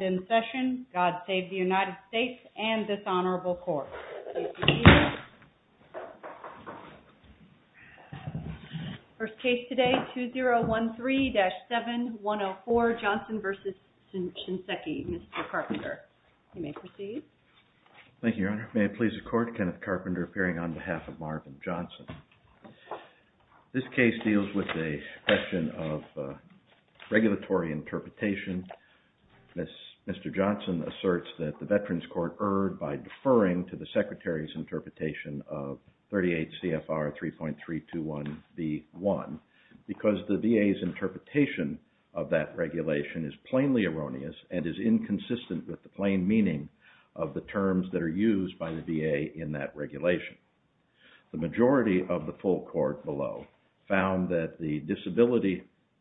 in session, God Save the United States, and this Honorable Court. First case today, 2013-7104, Johnson v. Shinseki. Mr. Carpenter, you may proceed. Thank you, Your Honor. May it please the Court, Kenneth Carpenter appearing on behalf of Marvin Johnson. This case deals with a question of regulatory interpretation. Mr. Johnson asserts that the Veterans Court erred by deferring to the Secretary's interpretation of 38 CFR 3.321 v. 1 because the VA's interpretation of that regulation is plainly erroneous and is inconsistent with the plain meaning of the terms that are used by the VA in that regulation. The majority of the full Court below found that the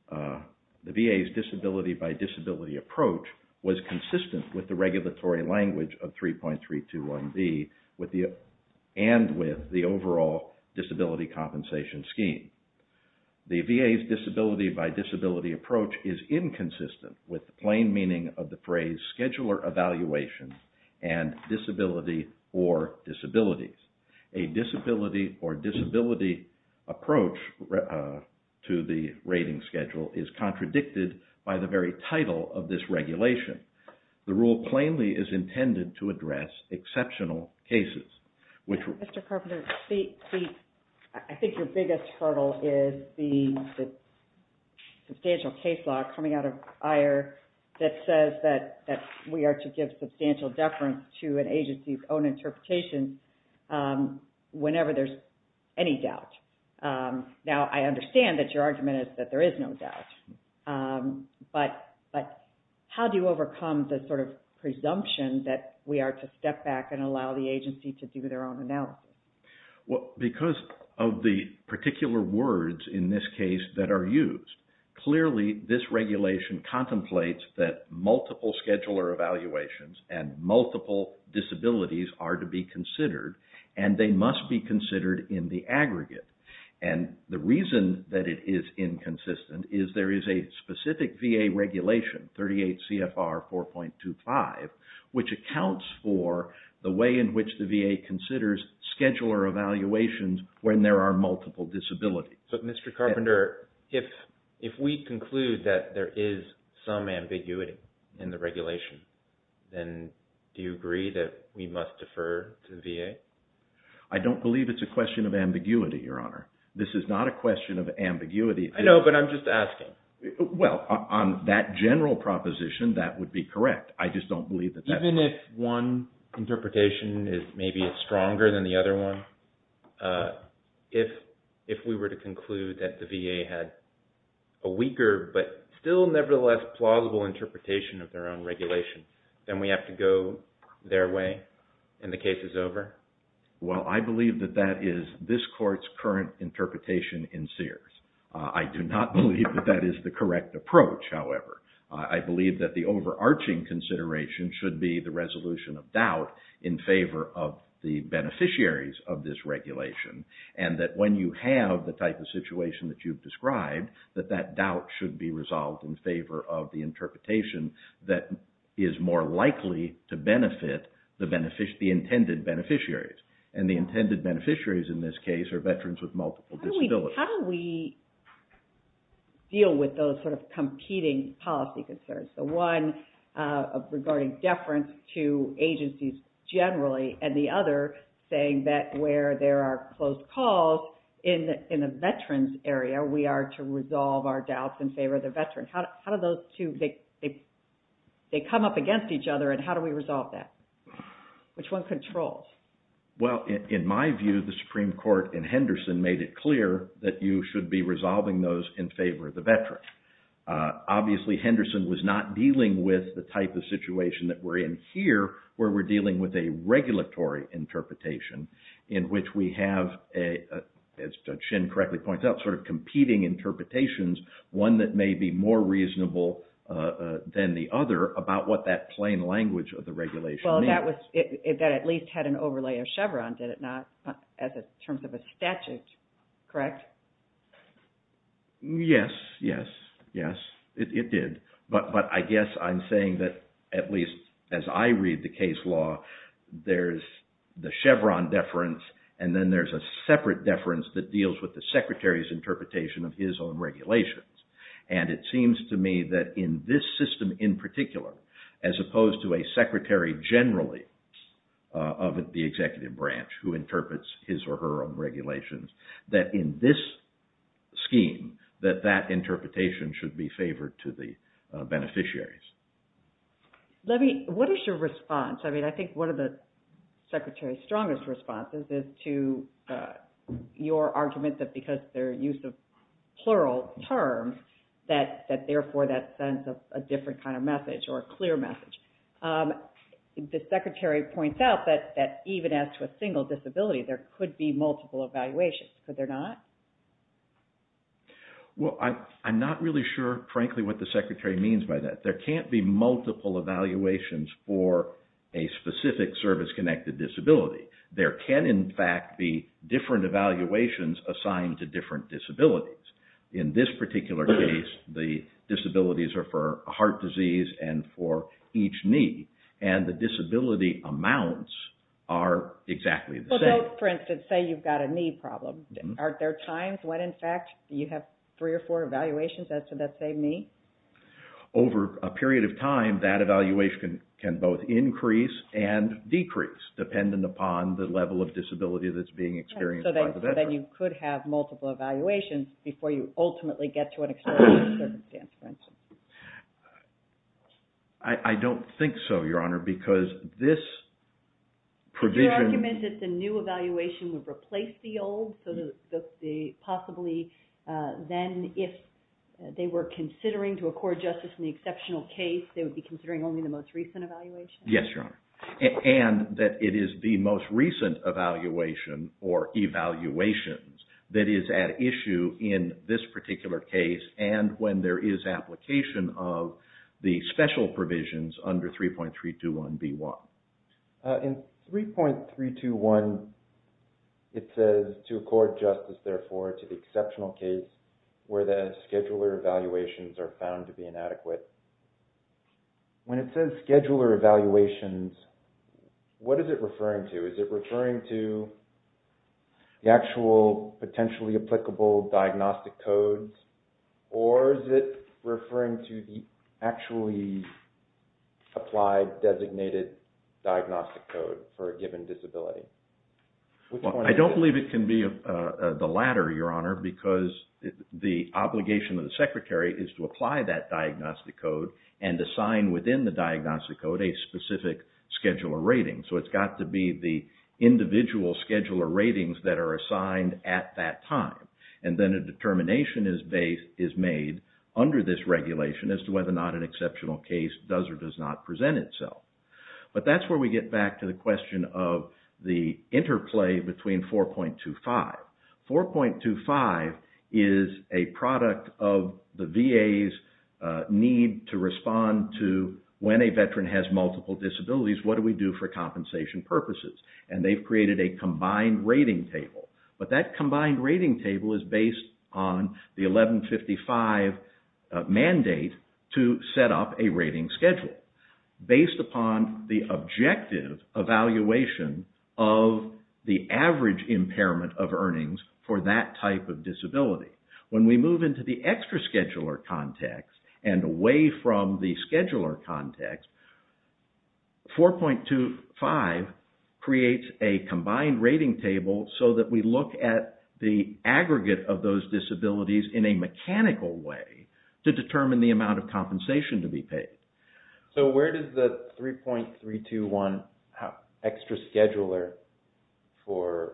VA's disability-by-disability approach was consistent with the regulatory language of 3.321 v and with the overall disability compensation scheme. The VA's disability-by-disability approach is inconsistent with the plain meaning of the phrase scheduler evaluations and disability or disabilities. A disability or disability approach to the rating schedule is contradicted by the very title of this regulation. The rule plainly is intended to address exceptional cases. Mr. Carpenter, I think your biggest hurdle is the substantial case law coming out of IR that says that we are to give substantial deference to an agency's own interpretation whenever there's any doubt. Now, I understand that your argument is that there is no doubt, but how do you overcome the sort of presumption that we are to step back and allow the agency to do their own analysis? Well, because of the particular words in this case that are used, clearly this regulation contemplates that multiple scheduler evaluations and multiple disabilities are to be considered, and they must be considered in the aggregate. And the reason that it is inconsistent is there is a specific VA regulation, 38 CFR 4.25, which accounts for the way in which the VA considers scheduler evaluations when there are multiple disabilities. So, Mr. Carpenter, if we conclude that there is some ambiguity in the regulation, then do you agree that we must defer to the VA? I don't believe it's a question of ambiguity, Your Honor. This is not a question of ambiguity. I know, but I'm just asking. Well, on that general proposition, that would be correct. I just don't believe that that's right. Even if one interpretation is maybe stronger than the other one, if we were to conclude that the VA had a weaker but still nevertheless plausible interpretation of their own regulation, then we have to go their way and the case is over? Well, I believe that that is this court's current interpretation in Sears. I do not believe that that is the correct approach, however. I believe that the overarching consideration should be the resolution of doubt in favor of the beneficiaries of this regulation and that when you have the type of situation that you've described, that that doubt should be resolved in favor of the interpretation that is more likely to benefit the intended beneficiaries. And the intended beneficiaries in this case are veterans with multiple disabilities. How do we deal with those sort of competing policy concerns? The one regarding deference to agencies generally and the other saying that where there are closed calls in a veteran's area, we are to resolve our doubts in favor of the veteran. How do those two, they come up against each other and how do we resolve that? Which one controls? Well, in my view, the Supreme Court in Henderson made it clear that you should be resolving those in favor of the veteran. Obviously, Henderson was not dealing with the type of situation that we're in here where we're dealing with a regulatory interpretation in which we have, as Judge Shin correctly points out, sort of competing interpretations, one that may be more reasonable than the other about what that plain language of the regulation means. Well, that at least had an overlay of Chevron, did it not, in terms of a statute, correct? Yes, yes, yes, it did. But I guess I'm saying that at least as I read the case law, there's the Chevron deference and then there's a separate deference that deals with the Secretary's interpretation of his own regulations. And it seems to me that in this system in particular, as opposed to a secretary generally of the executive branch who interprets his or her own regulations, that in this scheme, that that interpretation should be favored to the beneficiaries. Let me, what is your response? I mean, I think one of the Secretary's strongest responses is to your argument that because their use of plural terms, that therefore that sends a different kind of message or a clear message. The Secretary points out that even as to a single disability, there could be multiple evaluations, could there not? Well, I'm not really sure, frankly, what the Secretary means by that. There can't be multiple evaluations for a specific service-connected disability. There can, in fact, be different evaluations assigned to different disabilities. In this particular case, the disabilities are for heart disease and for each knee. And the disability amounts are exactly the same. Well, don't, for instance, say you've got a knee problem. Are there times when, in fact, you have three or four evaluations as to that same knee? Over a period of time, that evaluation can both increase and decrease, dependent upon the level of disability that's being experienced by the veteran. So then you could have multiple evaluations before you ultimately get to an external circumstance, for instance. I don't think so, Your Honor, because this provision... So possibly then if they were considering to accord justice in the exceptional case, they would be considering only the most recent evaluation? Yes, Your Honor. And that it is the most recent evaluation or evaluations that is at issue in this particular case and when there is application of the special provisions under 3.321B1. In 3.321, it says, to accord justice, therefore, to the exceptional case where the scheduler evaluations are found to be inadequate. When it says scheduler evaluations, what is it referring to? Is it referring to the actual potentially applicable diagnostic codes or is it referring to the actually applied designated diagnostic code for a given disability? I don't believe it can be the latter, Your Honor, because the obligation of the secretary is to apply that diagnostic code and assign within the diagnostic code a specific scheduler rating. So it's got to be the individual scheduler ratings that are assigned at that time. And then a determination is made under this regulation as to whether or not an exceptional case does or does not present itself. But that's where we get back to the question of the interplay between 4.25. 4.25 is a product of the VA's need to respond to when a veteran has multiple disabilities, what do we do for compensation purposes? And they've created a combined rating table. But that combined rating table is based on the 1155 mandate to set up a rating schedule based upon the objective evaluation of the average impairment of earnings for that type of disability. When we move into the extra scheduler context and away from the scheduler context, 4.25 creates a combined rating table so that we look at the aggregate of those disabilities in a mechanical way to determine the amount of compensation to be paid. So where does the 3.321 extra scheduler for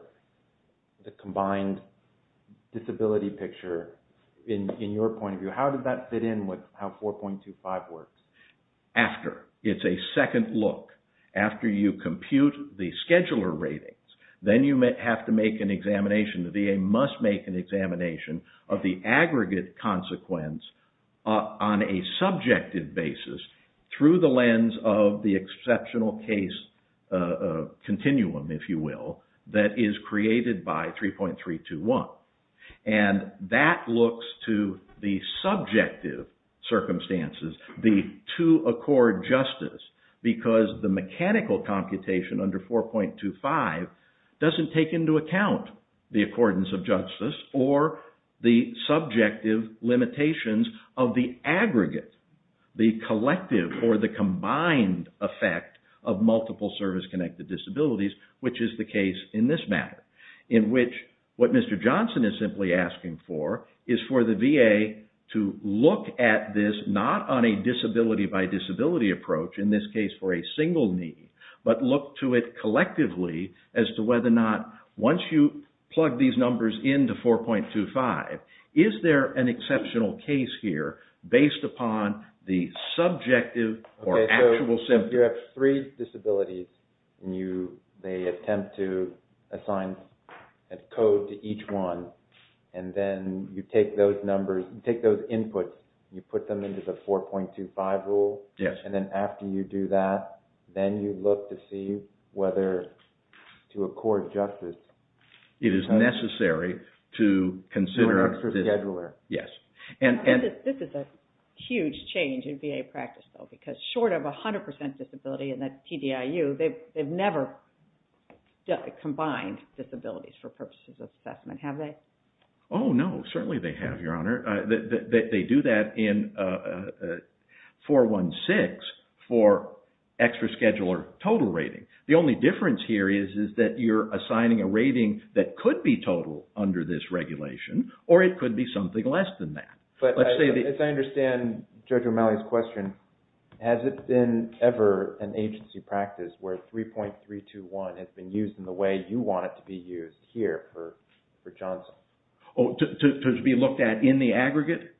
the combined disability picture, in your point of view, how did that fit in with how 4.25 works? After, it's a second look. After you compute the scheduler ratings, then you have to make an examination, the VA must make an examination of the aggregate consequence on a subjective basis through the lens of the exceptional case continuum, if you will, that is created by 3.321. And that looks to the subjective circumstances, the two accord justice, because the mechanical computation under 4.25 doesn't take into account the accordance of justice or the subjective limitations of the aggregate, the collective or the combined effect of multiple service-connected disabilities, which is the case in this matter, in which what Mr. Johnson is simply asking for is for the VA to look at this, not on a disability-by-disability approach, in this case for a single need, but look to it collectively as to whether or not, once you plug these numbers into 4.25, is there an exceptional case here based upon the subjective or actual symptoms? So you have three disabilities, and they attempt to assign a code to each one, and then you take those numbers, you take those inputs, you put them into the 4.25 rule, and then after you do that, then you look to see whether to accord justice. It is necessary to consider this. This is a huge change in VA practice, though, because short of 100% disability in the TDIU, they've never combined disabilities for purposes of assessment, have they? Oh, no, certainly they have, Your Honor. They do that in 4.16 for extra scheduler total rating. The only difference here is that you're assigning a rating that could be total under this regulation, or it could be something less than that. As I understand Judge O'Malley's question, has it been ever an agency practice where 3.321 has been used in the way you want it to be used here for Johnson? Oh, to be looked at in the aggregate?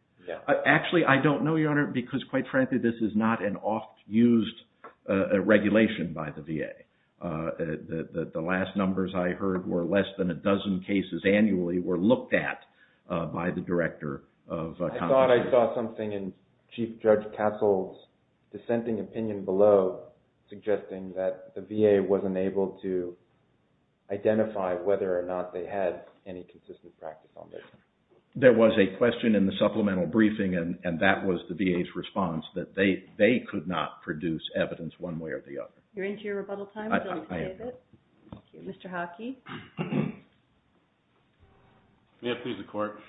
Actually, I don't know, Your Honor, because quite frankly, this is not an oft-used regulation by the VA. The last numbers I heard were less than a dozen cases annually were looked at by the Director of Controversy. I thought I saw something in Chief Judge Kassel's dissenting opinion below suggesting that the VA wasn't able to identify whether or not they had any consistent practice on this. There was a question in the supplemental briefing, and that was the VA's response, that they could not produce evidence one way or the other. You're into your rebuttal time? I am. Mr. Hockey? May I please the Court?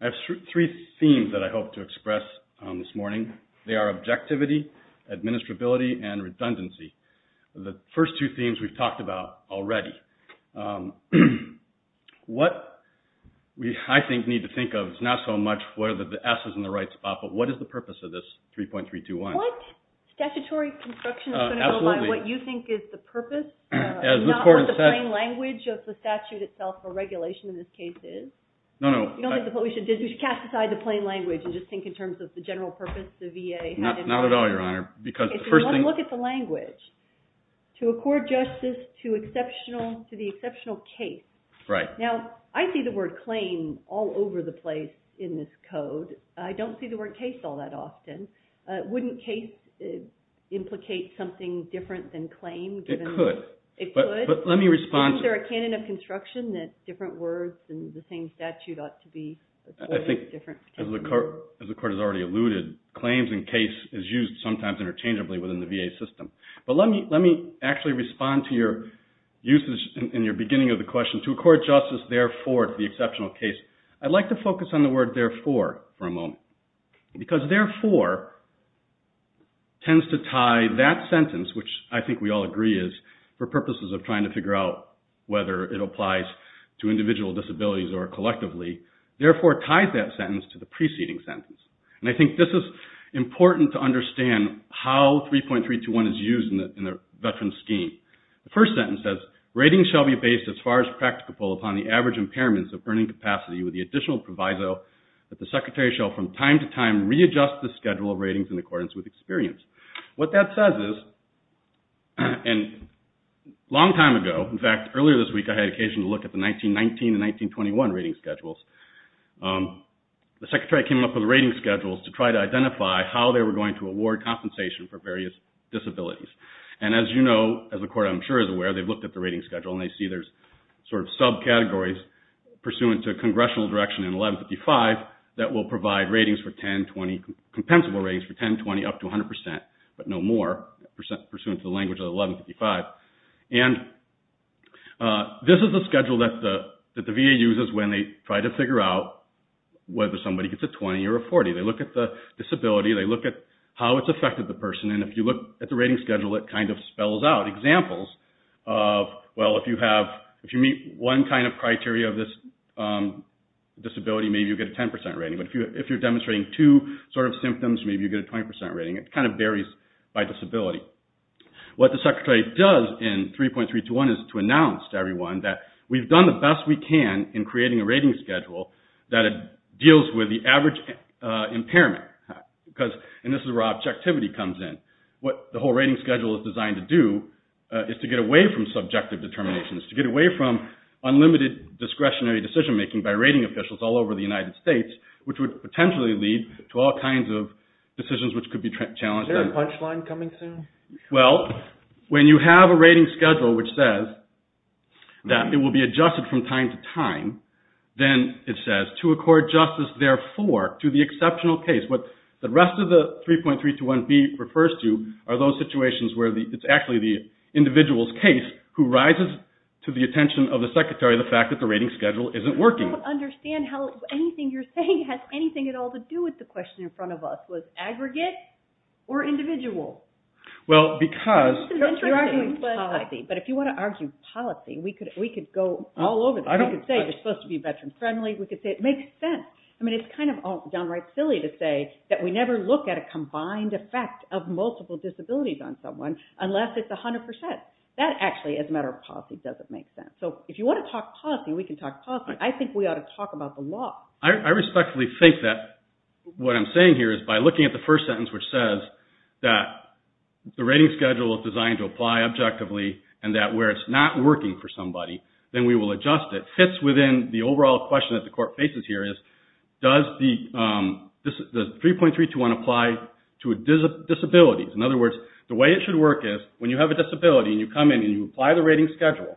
I have three themes that I hope to express this morning. They are objectivity, administrability, and redundancy. The first two themes we've talked about already. What we, I think, need to think of is not so much whether the S is in the right spot, but what is the purpose of this 3.321? What statutory construction is going to go by what you think is the purpose, not what the plain language of the statute itself or regulation in this case is? No, no. You don't think we should cast aside the plain language and just think in terms of the general purpose the VA had in mind? Not at all, Your Honor. If you want to look at the language, to accord justice to the exceptional case. Right. Now, I see the word claim all over the place in this code. I don't see the word case all that often. Wouldn't case implicate something different than claim? It could. It could? But let me respond to it. Isn't there a canon of construction that different words in the same statute ought to be different? I think, as the Court has already alluded, claims and case is used sometimes interchangeably within the VA system. But let me actually respond to your usage in your beginning of the question. To accord justice, therefore, to the exceptional case. I'd like to focus on the word therefore for a moment. Because therefore tends to tie that sentence, which I think we all agree is for purposes of trying to figure out whether it applies to individual disabilities or collectively, therefore ties that sentence to the preceding sentence. And I think this is important to understand how 3.321 is used in the veteran scheme. The first sentence says, Ratings shall be based as far as practicable upon the average impairments of burning capacity with the additional proviso that the Secretary shall from time to time readjust the schedule of ratings in accordance with experience. What that says is, and a long time ago, in fact, earlier this week, I had occasion to look at the 1919 and 1921 rating schedules. The Secretary came up with rating schedules to try to identify how they were going to award compensation for various disabilities. And as you know, as the Court, I'm sure, is aware, they've looked at the rating schedule and they see there's sort of subcategories pursuant to congressional direction in 1155 that will provide ratings for 10, 20, compensable ratings for 10, 20 up to 100%, but no more pursuant to the language of 1155. And this is the schedule that the VA uses when they try to figure out whether somebody gets a 20 or a 40. They look at the disability. They look at how it's affected the person. And if you look at the rating schedule, it kind of spells out examples of, well, if you meet one kind of criteria of this disability, maybe you get a 10% rating. But if you're demonstrating two sort of symptoms, maybe you get a 20% rating. It kind of varies by disability. What the Secretary does in 3.321 is to announce to everyone that we've done the best we can in creating a rating schedule that deals with the average impairment. And this is where objectivity comes in. What the whole rating schedule is designed to do is to get away from subjective determinations, to get away from unlimited discretionary decision-making by rating officials all over the United States, which would potentially lead to all kinds of decisions which could be challenged. Is there a punchline coming soon? Well, when you have a rating schedule which says that it will be adjusted from time to time, then it says to accord justice, therefore, to the exceptional case. What the rest of the 3.321B refers to are those situations where it's actually the individual's case who rises to the attention of the Secretary the fact that the rating schedule isn't working. I don't understand how anything you're saying has anything at all to do with the question in front of us. Was aggregate or individual? Well, because... You're arguing policy. But if you want to argue policy, we could go all over this. We could say it's supposed to be veteran-friendly. We could say it makes sense. I mean, it's kind of downright silly to say that we never look at a combined effect of multiple disabilities on someone unless it's 100%. That actually, as a matter of policy, doesn't make sense. So if you want to talk policy, we can talk policy. I think we ought to talk about the law. I respectfully think that what I'm saying here is by looking at the first sentence which says that the rating schedule is designed to apply objectively and that where it's not working for somebody, then we will adjust it. It fits within the overall question that the Court faces here is does 3.321 apply to disabilities? In other words, the way it should work is when you have a disability and you come in and you apply the rating schedule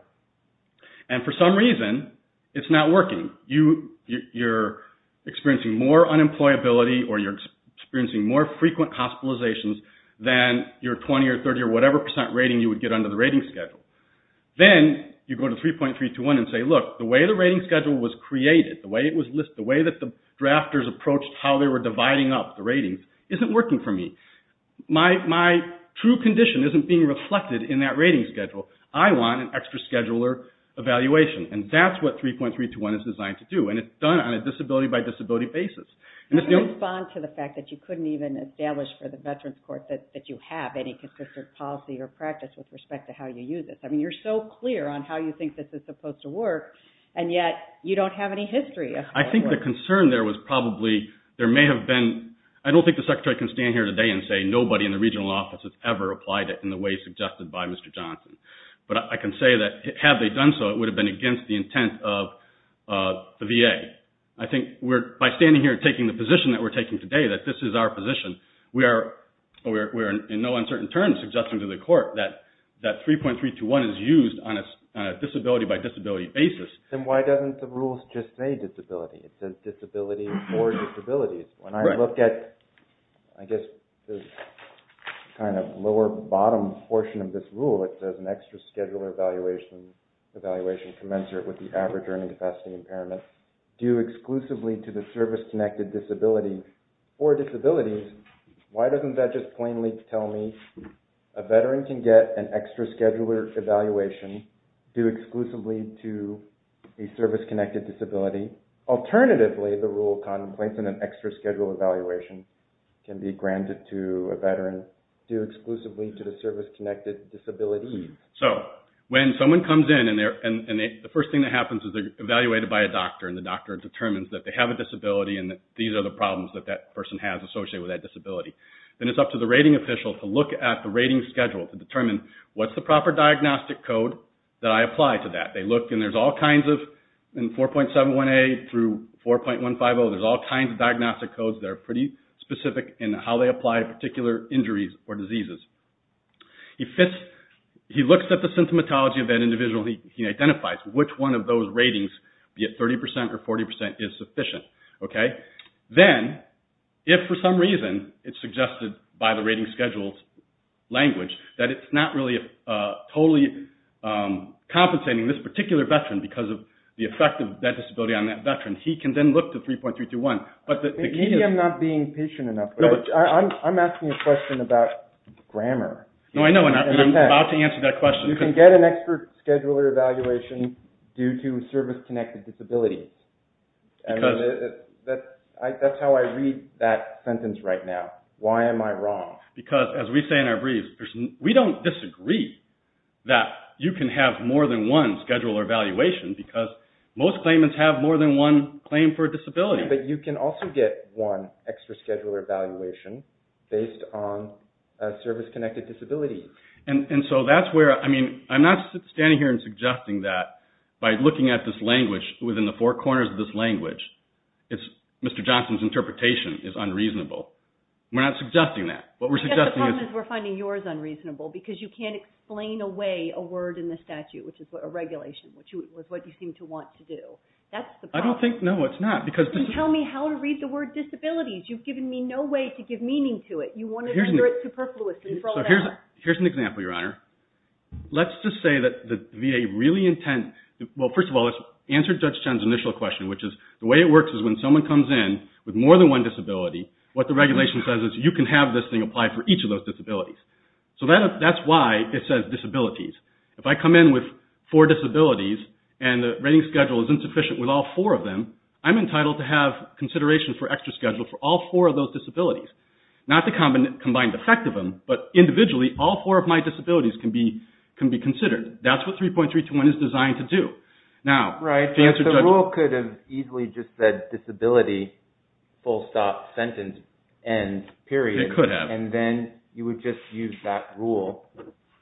and for some reason, it's not working. You're experiencing more unemployability or you're experiencing more frequent hospitalizations than your 20 or 30 or whatever percent rating you would get under the rating schedule. Then you go to 3.321 and say, look, the way the rating schedule was created, the way that the drafters approached how they were dividing up the ratings, isn't working for me. My true condition isn't being reflected in that rating schedule. I want an extra scheduler evaluation and that's what 3.321 is designed to do and it's done on a disability by disability basis. Can you respond to the fact that you couldn't even establish for the Veterans Court that you have any consistent policy or practice with respect to how you use it? I mean, you're so clear on how you think this is supposed to work and yet, you don't have any history. I think the concern there was probably... There may have been... I don't think the Secretary can stand here today and say nobody in the regional office has ever applied it in the way suggested by Mr. Johnson. But I can say that had they done so, it would have been against the intent of the VA. I think by standing here and taking the position that we're taking today, that this is our position, we are in no uncertain terms suggesting to the court that 3.321 is used on a disability by disability basis. Then why doesn't the rules just say disability? It says disability for disabilities. When I look at, I guess, the kind of lower bottom portion of this rule, it says an extra scheduler evaluation commensurate with the average earning capacity impairment due exclusively to the service-connected disability for disabilities. Why doesn't that just plainly tell me a veteran can get an extra scheduler evaluation due exclusively to a service-connected disability? Alternatively, the rule contemplates that an extra scheduler evaluation can be granted to a veteran due exclusively to the service-connected disability. So when someone comes in and the first thing that happens is they're evaluated by a doctor and the doctor determines that they have a disability and that these are the problems that that person has associated with that disability, then it's up to the rating official to look at the rating schedule to determine what's the proper diagnostic code that I apply to that. They look and there's all kinds of, in 4.718 through 4.150, there's all kinds of diagnostic codes that are pretty specific in how they apply to particular injuries or diseases. He looks at the symptomatology of that individual. He identifies which one of those ratings, be it 30% or 40%, is sufficient. Then, if for some reason it's suggested by the rating schedule language that it's not really totally compensating this particular veteran because of the effect of that disability on that veteran, he can then look to 3.321. Maybe I'm not being patient enough. I'm asking a question about grammar. No, I know, and I'm about to answer that question. You can get an extra scheduler evaluation due to service-connected disability. That's how I read that sentence right now. Why am I wrong? Because, as we say in our briefs, we don't disagree that you can have more than one scheduler evaluation because most claimants have more than one claim for disability. But you can also get one extra scheduler evaluation based on service-connected disability. And so that's where, I mean, I'm not standing here and suggesting that by looking at this language, within the four corners of this language, Mr. Johnson's interpretation is unreasonable. We're not suggesting that. What we're suggesting is... But the problem is we're finding yours unreasonable because you can't explain away a word in the statute, which is a regulation, which is what you seem to want to do. That's the problem. I don't think, no, it's not because... Then tell me how to read the word disabilities. You've given me no way to give meaning to it. You want to consider it superfluously for all that. Here's an example, Your Honor. Let's just say that the VA really intend... Well, first of all, let's answer Judge Chen's initial question, which is the way it works is when someone comes in with more than one disability, what the regulation says is you can have this thing apply for each of those disabilities. So that's why it says disabilities. If I come in with four disabilities and the rating schedule is insufficient with all four of them, I'm entitled to have consideration for extra schedule for all four of those disabilities. Not the combined effect of them, but individually, all four of my disabilities can be considered. That's what 3.321 is designed to do. Right, but the rule could have easily just said disability, full stop, sentence, end, period. It could have. And then you would just use that rule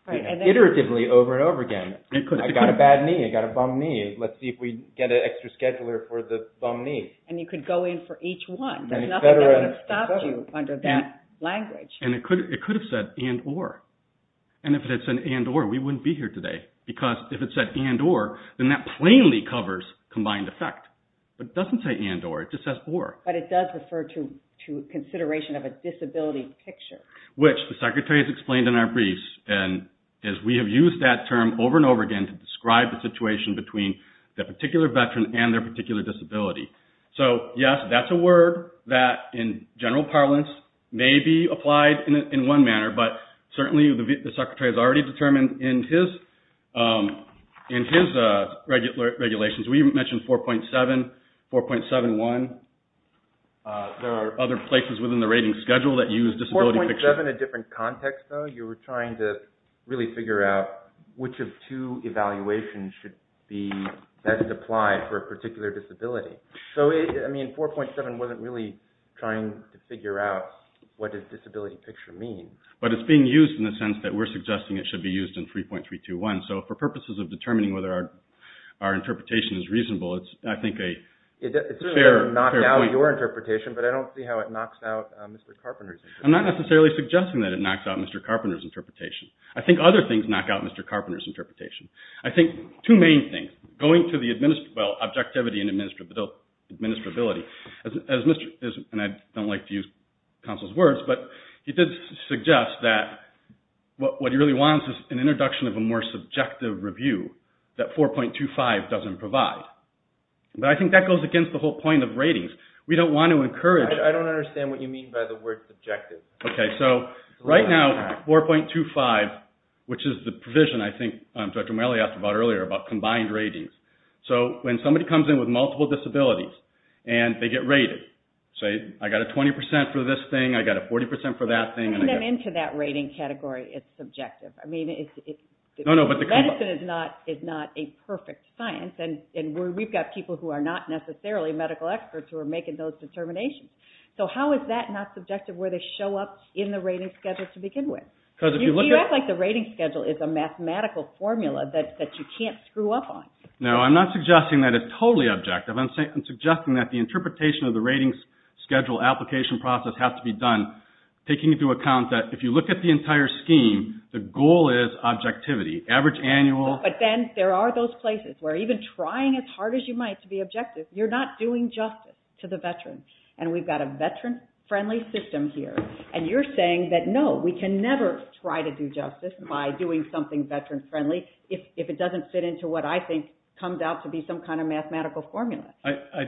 iteratively over and over again. I got a bad knee. I got a bum knee. Let's see if we get an extra scheduler for the bum knee. And you could go in for each one. There's nothing that would have stopped you under that language. And it could have said and, or. And if it had said and, or, we wouldn't be here today. Because if it said and, or, then that plainly covers combined effect. But it doesn't say and, or. It just says or. But it does refer to consideration of a disability picture. Which the secretary has explained in our briefs. And we have used that term over and over again to describe the situation between that particular veteran and their particular disability. So, yes, that's a word that in general parlance may be applied in one manner. But certainly the secretary has already determined in his regulations. We mentioned 4.7, 4.71. There are other places within the rating schedule that use disability pictures. 4.7, a different context though. You were trying to really figure out which of two evaluations should be best applied for a particular disability. So, I mean, 4.7 wasn't really trying to figure out what does disability picture mean. But it's being used in the sense that we're suggesting it should be used in 3.321. So, for purposes of determining whether our interpretation is reasonable, it's, I think, a fair point. It certainly doesn't knock out your interpretation. But I don't see how it knocks out Mr. Carpenter's interpretation. I'm not necessarily suggesting that it knocks out Mr. Carpenter's interpretation. I think other things knock out Mr. Carpenter's interpretation. I think two main things, going to the, well, objectivity and administrability. As Mr., and I don't like to use counsel's words, but he did suggest that what he really wants is an introduction of a more subjective review that 4.25 doesn't provide. But I think that goes against the whole point of ratings. We don't want to encourage... I don't understand what you mean by the word subjective. Okay, so right now, 4.25, which is the provision, I think, Dr. Malley asked about earlier, about combined ratings. So when somebody comes in with multiple disabilities and they get rated, say, I got a 20% for this thing, I got a 40% for that thing. Putting them into that rating category is subjective. I mean, medicine is not a perfect science. And we've got people who are not necessarily medical experts who are making those determinations. So how is that not subjective where they show up in the rating schedule to begin with? You act like the rating schedule is a mathematical formula that you can't screw up on. No, I'm not suggesting that it's totally objective. I'm suggesting that the interpretation of the rating schedule application process has to be done taking into account that if you look at the entire scheme, the goal is objectivity. Average annual... But then there are those places where even trying as hard as you might to be objective, you're not doing justice to the veterans. And we've got a veteran-friendly system here. And you're saying that, no, we can never try to do justice by doing something veteran-friendly if it doesn't fit into what I think comes out to be some kind of mathematical formula. I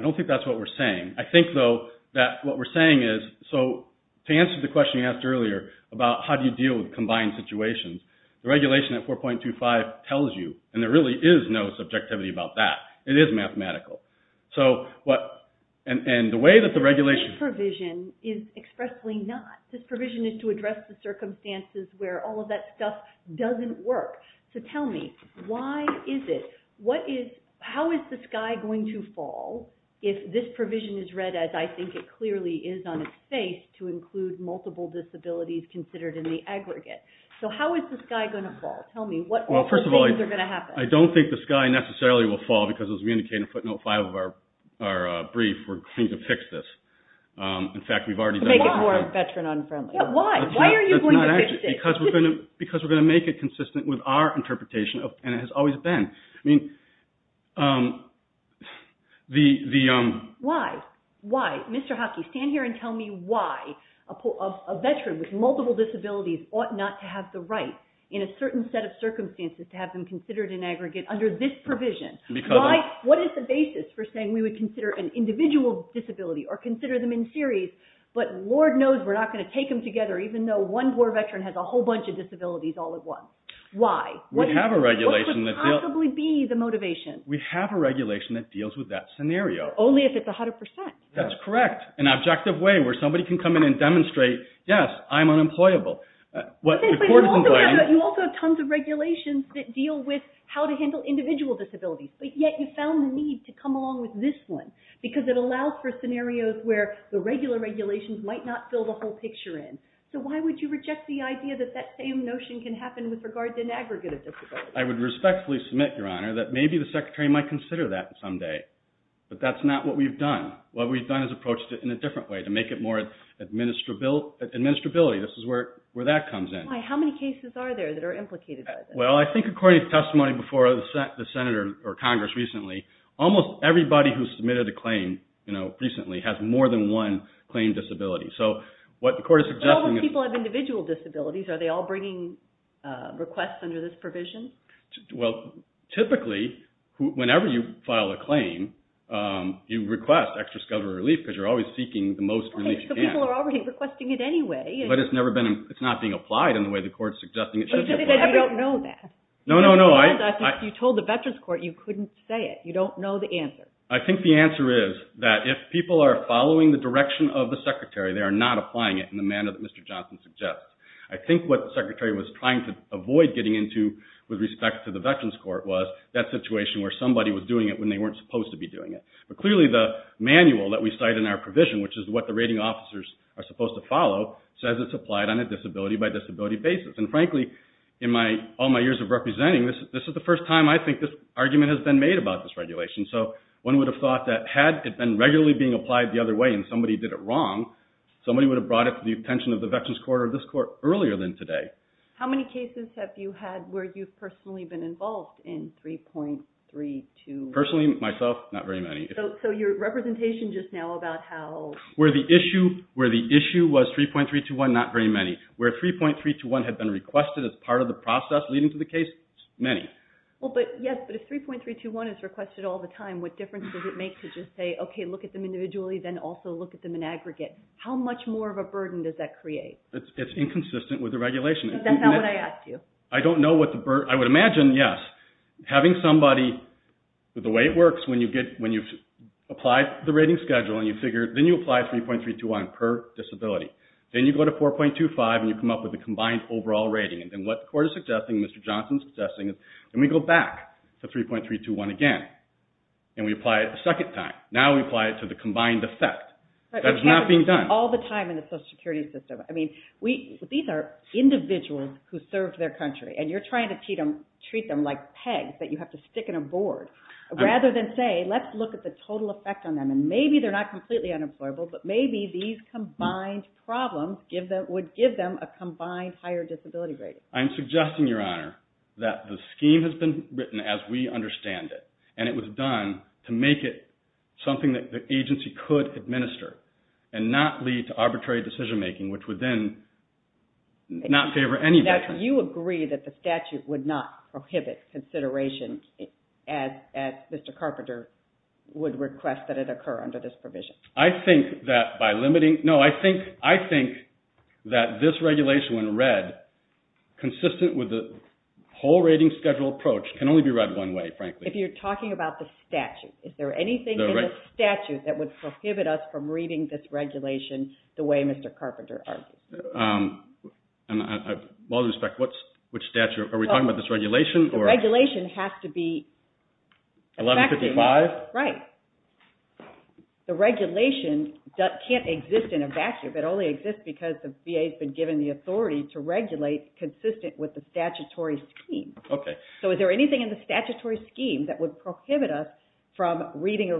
don't think that's what we're saying. I think, though, that what we're saying is... So to answer the question you asked earlier about how do you deal with combined situations, the regulation at 4.25 tells you, and there really is no subjectivity about that. It is mathematical. So what... And the way that the regulation... Obviously not. This provision is to address the circumstances where all of that stuff doesn't work. So tell me, why is it... How is the sky going to fall if this provision is read as, I think it clearly is on its face, to include multiple disabilities considered in the aggregate? So how is the sky going to fall? Tell me, what other things are going to happen? Well, first of all, I don't think the sky necessarily will fall because, as we indicated in footnote 5 of our brief, we're going to fix this. In fact, we've already done that. To make it more veteran unfriendly. Yeah, why? Why are you going to fix this? Because we're going to make it consistent with our interpretation, and it has always been. I mean, the... Why? Why? Mr. Hockey, stand here and tell me why a veteran with multiple disabilities ought not to have the right in a certain set of circumstances to have them considered in aggregate under this provision. Why? What is the basis for saying we would consider an individual disability or consider them in series, but Lord knows we're not going to take them together even though one poor veteran has a whole bunch of disabilities all at once. Why? We have a regulation that... What could possibly be the motivation? We have a regulation that deals with that scenario. Only if it's 100%. That's correct. An objective way where somebody can come in and demonstrate, yes, I'm unemployable. But you also have tons of regulations that deal with how to handle individual disabilities, but yet you found the need to come along with this one because it allows for scenarios where the regular regulations might not fill the whole picture in. So why would you reject the idea that that same notion can happen with regard to an aggregate of disabilities? I would respectfully submit, Your Honor, that maybe the Secretary might consider that someday, but that's not what we've done. What we've done is approached it in a different way to make it more administrability. This is where that comes in. Why? How many cases are there that are implicated by this? Well, I think according to testimony before the Senate or Congress recently, almost everybody who submitted a claim recently has more than one claim disability. So what the court is suggesting is... But all the people have individual disabilities. Are they all bringing requests under this provision? Well, typically, whenever you file a claim, you request extra skeletal relief because you're always seeking the most relief you can. Okay, so people are already requesting it anyway. But it's not being applied in the way the court's suggesting it should be applied. But you said you don't know that. No, no, no. You told the Veterans Court you couldn't say it. You don't know the answer. I think the answer is that if people are following the direction of the Secretary, they are not applying it in the manner that Mr. Johnson suggests. I think what the Secretary was trying to avoid getting into with respect to the Veterans Court was that situation where somebody was doing it when they weren't supposed to be doing it. But clearly, the manual that we cite in our provision, which is what the rating officers are supposed to follow, says it's applied on a disability-by-disability basis. And frankly, in all my years of representing, this is the first time I think this argument has been made about this regulation. So one would have thought that had it been regularly being applied the other way and somebody did it wrong, somebody would have brought it to the attention of the Veterans Court or this court earlier than today. How many cases have you had where you've personally been involved in 3.32? Personally, myself, not very many. So your representation just now about how... Where the issue was 3.321, not very many. Where 3.321 had been requested as part of the process leading to the case, many. Yes, but if 3.321 is requested all the time, what difference does it make to just say, okay, look at them individually, then also look at them in aggregate? How much more of a burden does that create? It's inconsistent with the regulation. Is that not what I asked you? I don't know what the burden... I would imagine, yes. Having somebody, the way it works, when you apply the rating schedule and you figure... Then you apply 3.321 per disability. Then you go to 4.25 and you come up with a combined overall rating. And then what the court is suggesting, Mr. Johnson is suggesting, is when we go back to 3.321 again and we apply it a second time, now we apply it to the combined effect. That is not being done. All the time in the social security system. I mean, these are individuals who served their country and you're trying to treat them like pegs that you have to stick in a board. Rather than say, let's look at the total effect on them and maybe they're not completely unemployable, but maybe these combined problems would give them a combined higher disability rating. I'm suggesting, Your Honor, that the scheme has been written as we understand it. And it was done to make it something that the agency could administer and not lead to arbitrary decision making, which would then not favor any veteran. Now, do you agree that the statute would not prohibit consideration as Mr. Carpenter would request that it occur under this provision? I think that by limiting... No, I think that this regulation when read consistent with the whole rating schedule approach can only be read one way, frankly. If you're talking about the statute, is there anything in the statute that would prohibit us from reading this regulation the way Mr. Carpenter argued? And, with all due respect, which statute? Are we talking about this regulation? The regulation has to be effective. 1155? Right. The regulation can't exist in a vacuum. It only exists because the VA's been given the authority to regulate consistent with the statutory scheme. Okay. So, is there anything in the statutory scheme that would prohibit us from reading the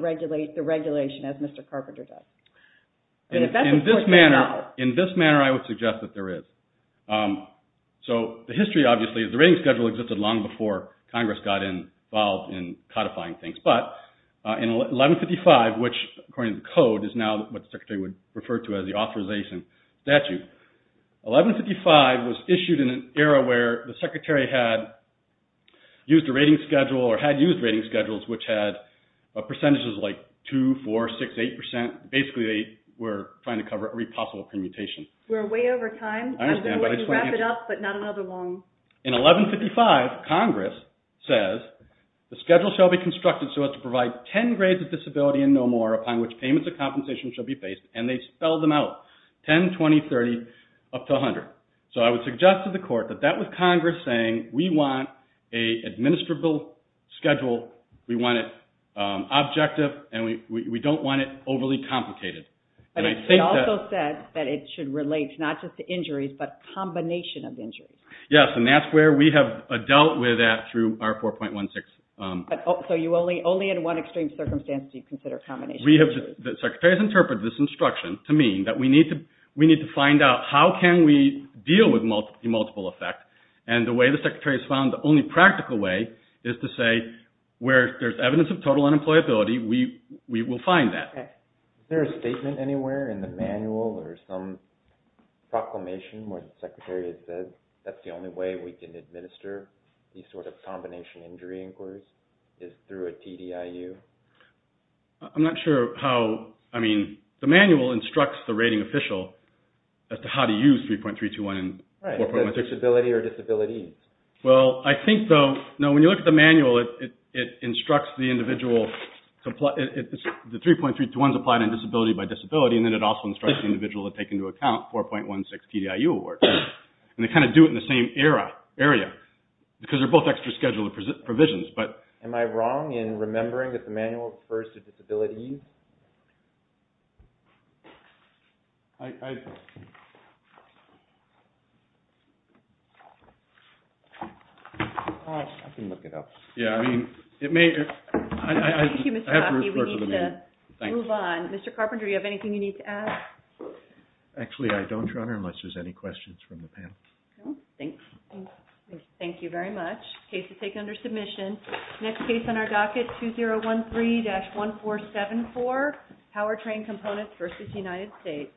regulation as Mr. Carpenter does? In this manner, I would suggest that there is. So, the history, obviously, is the rating schedule existed long before Congress got involved in codifying things. But, in 1155, which, according to the code, is now what the Secretary would refer to as the authorization statute. 1155 was issued in an era where the Secretary had used a rating schedule or had used rating schedules, which had percentages like 2%, 4%, 6%, 8%. Basically, they were trying to cover every possible permutation. We're way over time. I understand, but I just want to answer. I was going to wrap it up, but not another long... In 1155, Congress says, the schedule shall be constructed so as to provide 10 grades of disability and no more upon which payments of compensation shall be faced. And they spelled them out. 10, 20, 30, up to 100. So, I would suggest to the Court that that was Congress saying, we want an administrable schedule, we want it objective, and we don't want it overly complicated. They also said that it should relate not just to injuries, but combination of injuries. Yes, and that's where we have dealt with that through our 4.16. So, only in one extreme circumstance do you consider combination of injuries? The Secretary has interpreted this instruction to mean that we need to find out how can we deal with the multiple effect. And the way the Secretary has found, the only practical way is to say, where there's evidence of total unemployability, we will find that. Is there a statement anywhere in the manual or some proclamation where the Secretary has said that's the only way we can administer these sort of combination injury inquiries is through a TDIU? I'm not sure how... I mean, the manual instructs the rating official as to how to use 3.321 and 4.16. Disability or disabilities? Well, I think though, when you look at the manual, it instructs the individual... The 3.321 is applied on disability by disability and then it also instructs the individual to take into account 4.16 TDIU award. And they kind of do it in the same area because they're both extra-scheduled provisions. Am I wrong in remembering that the manual refers to disabilities? I... I can look it up. Yeah, I mean, it may... Thank you, Mr. Coffey. We need to move on. Mr. Carpenter, do you have anything you need to add? Actually, I don't, Your Honor, unless there's any questions from the panel. No, thanks. Thank you very much. Case is taken under submission. Next case on our docket, 2013-1474, Powertrain Components v. United States.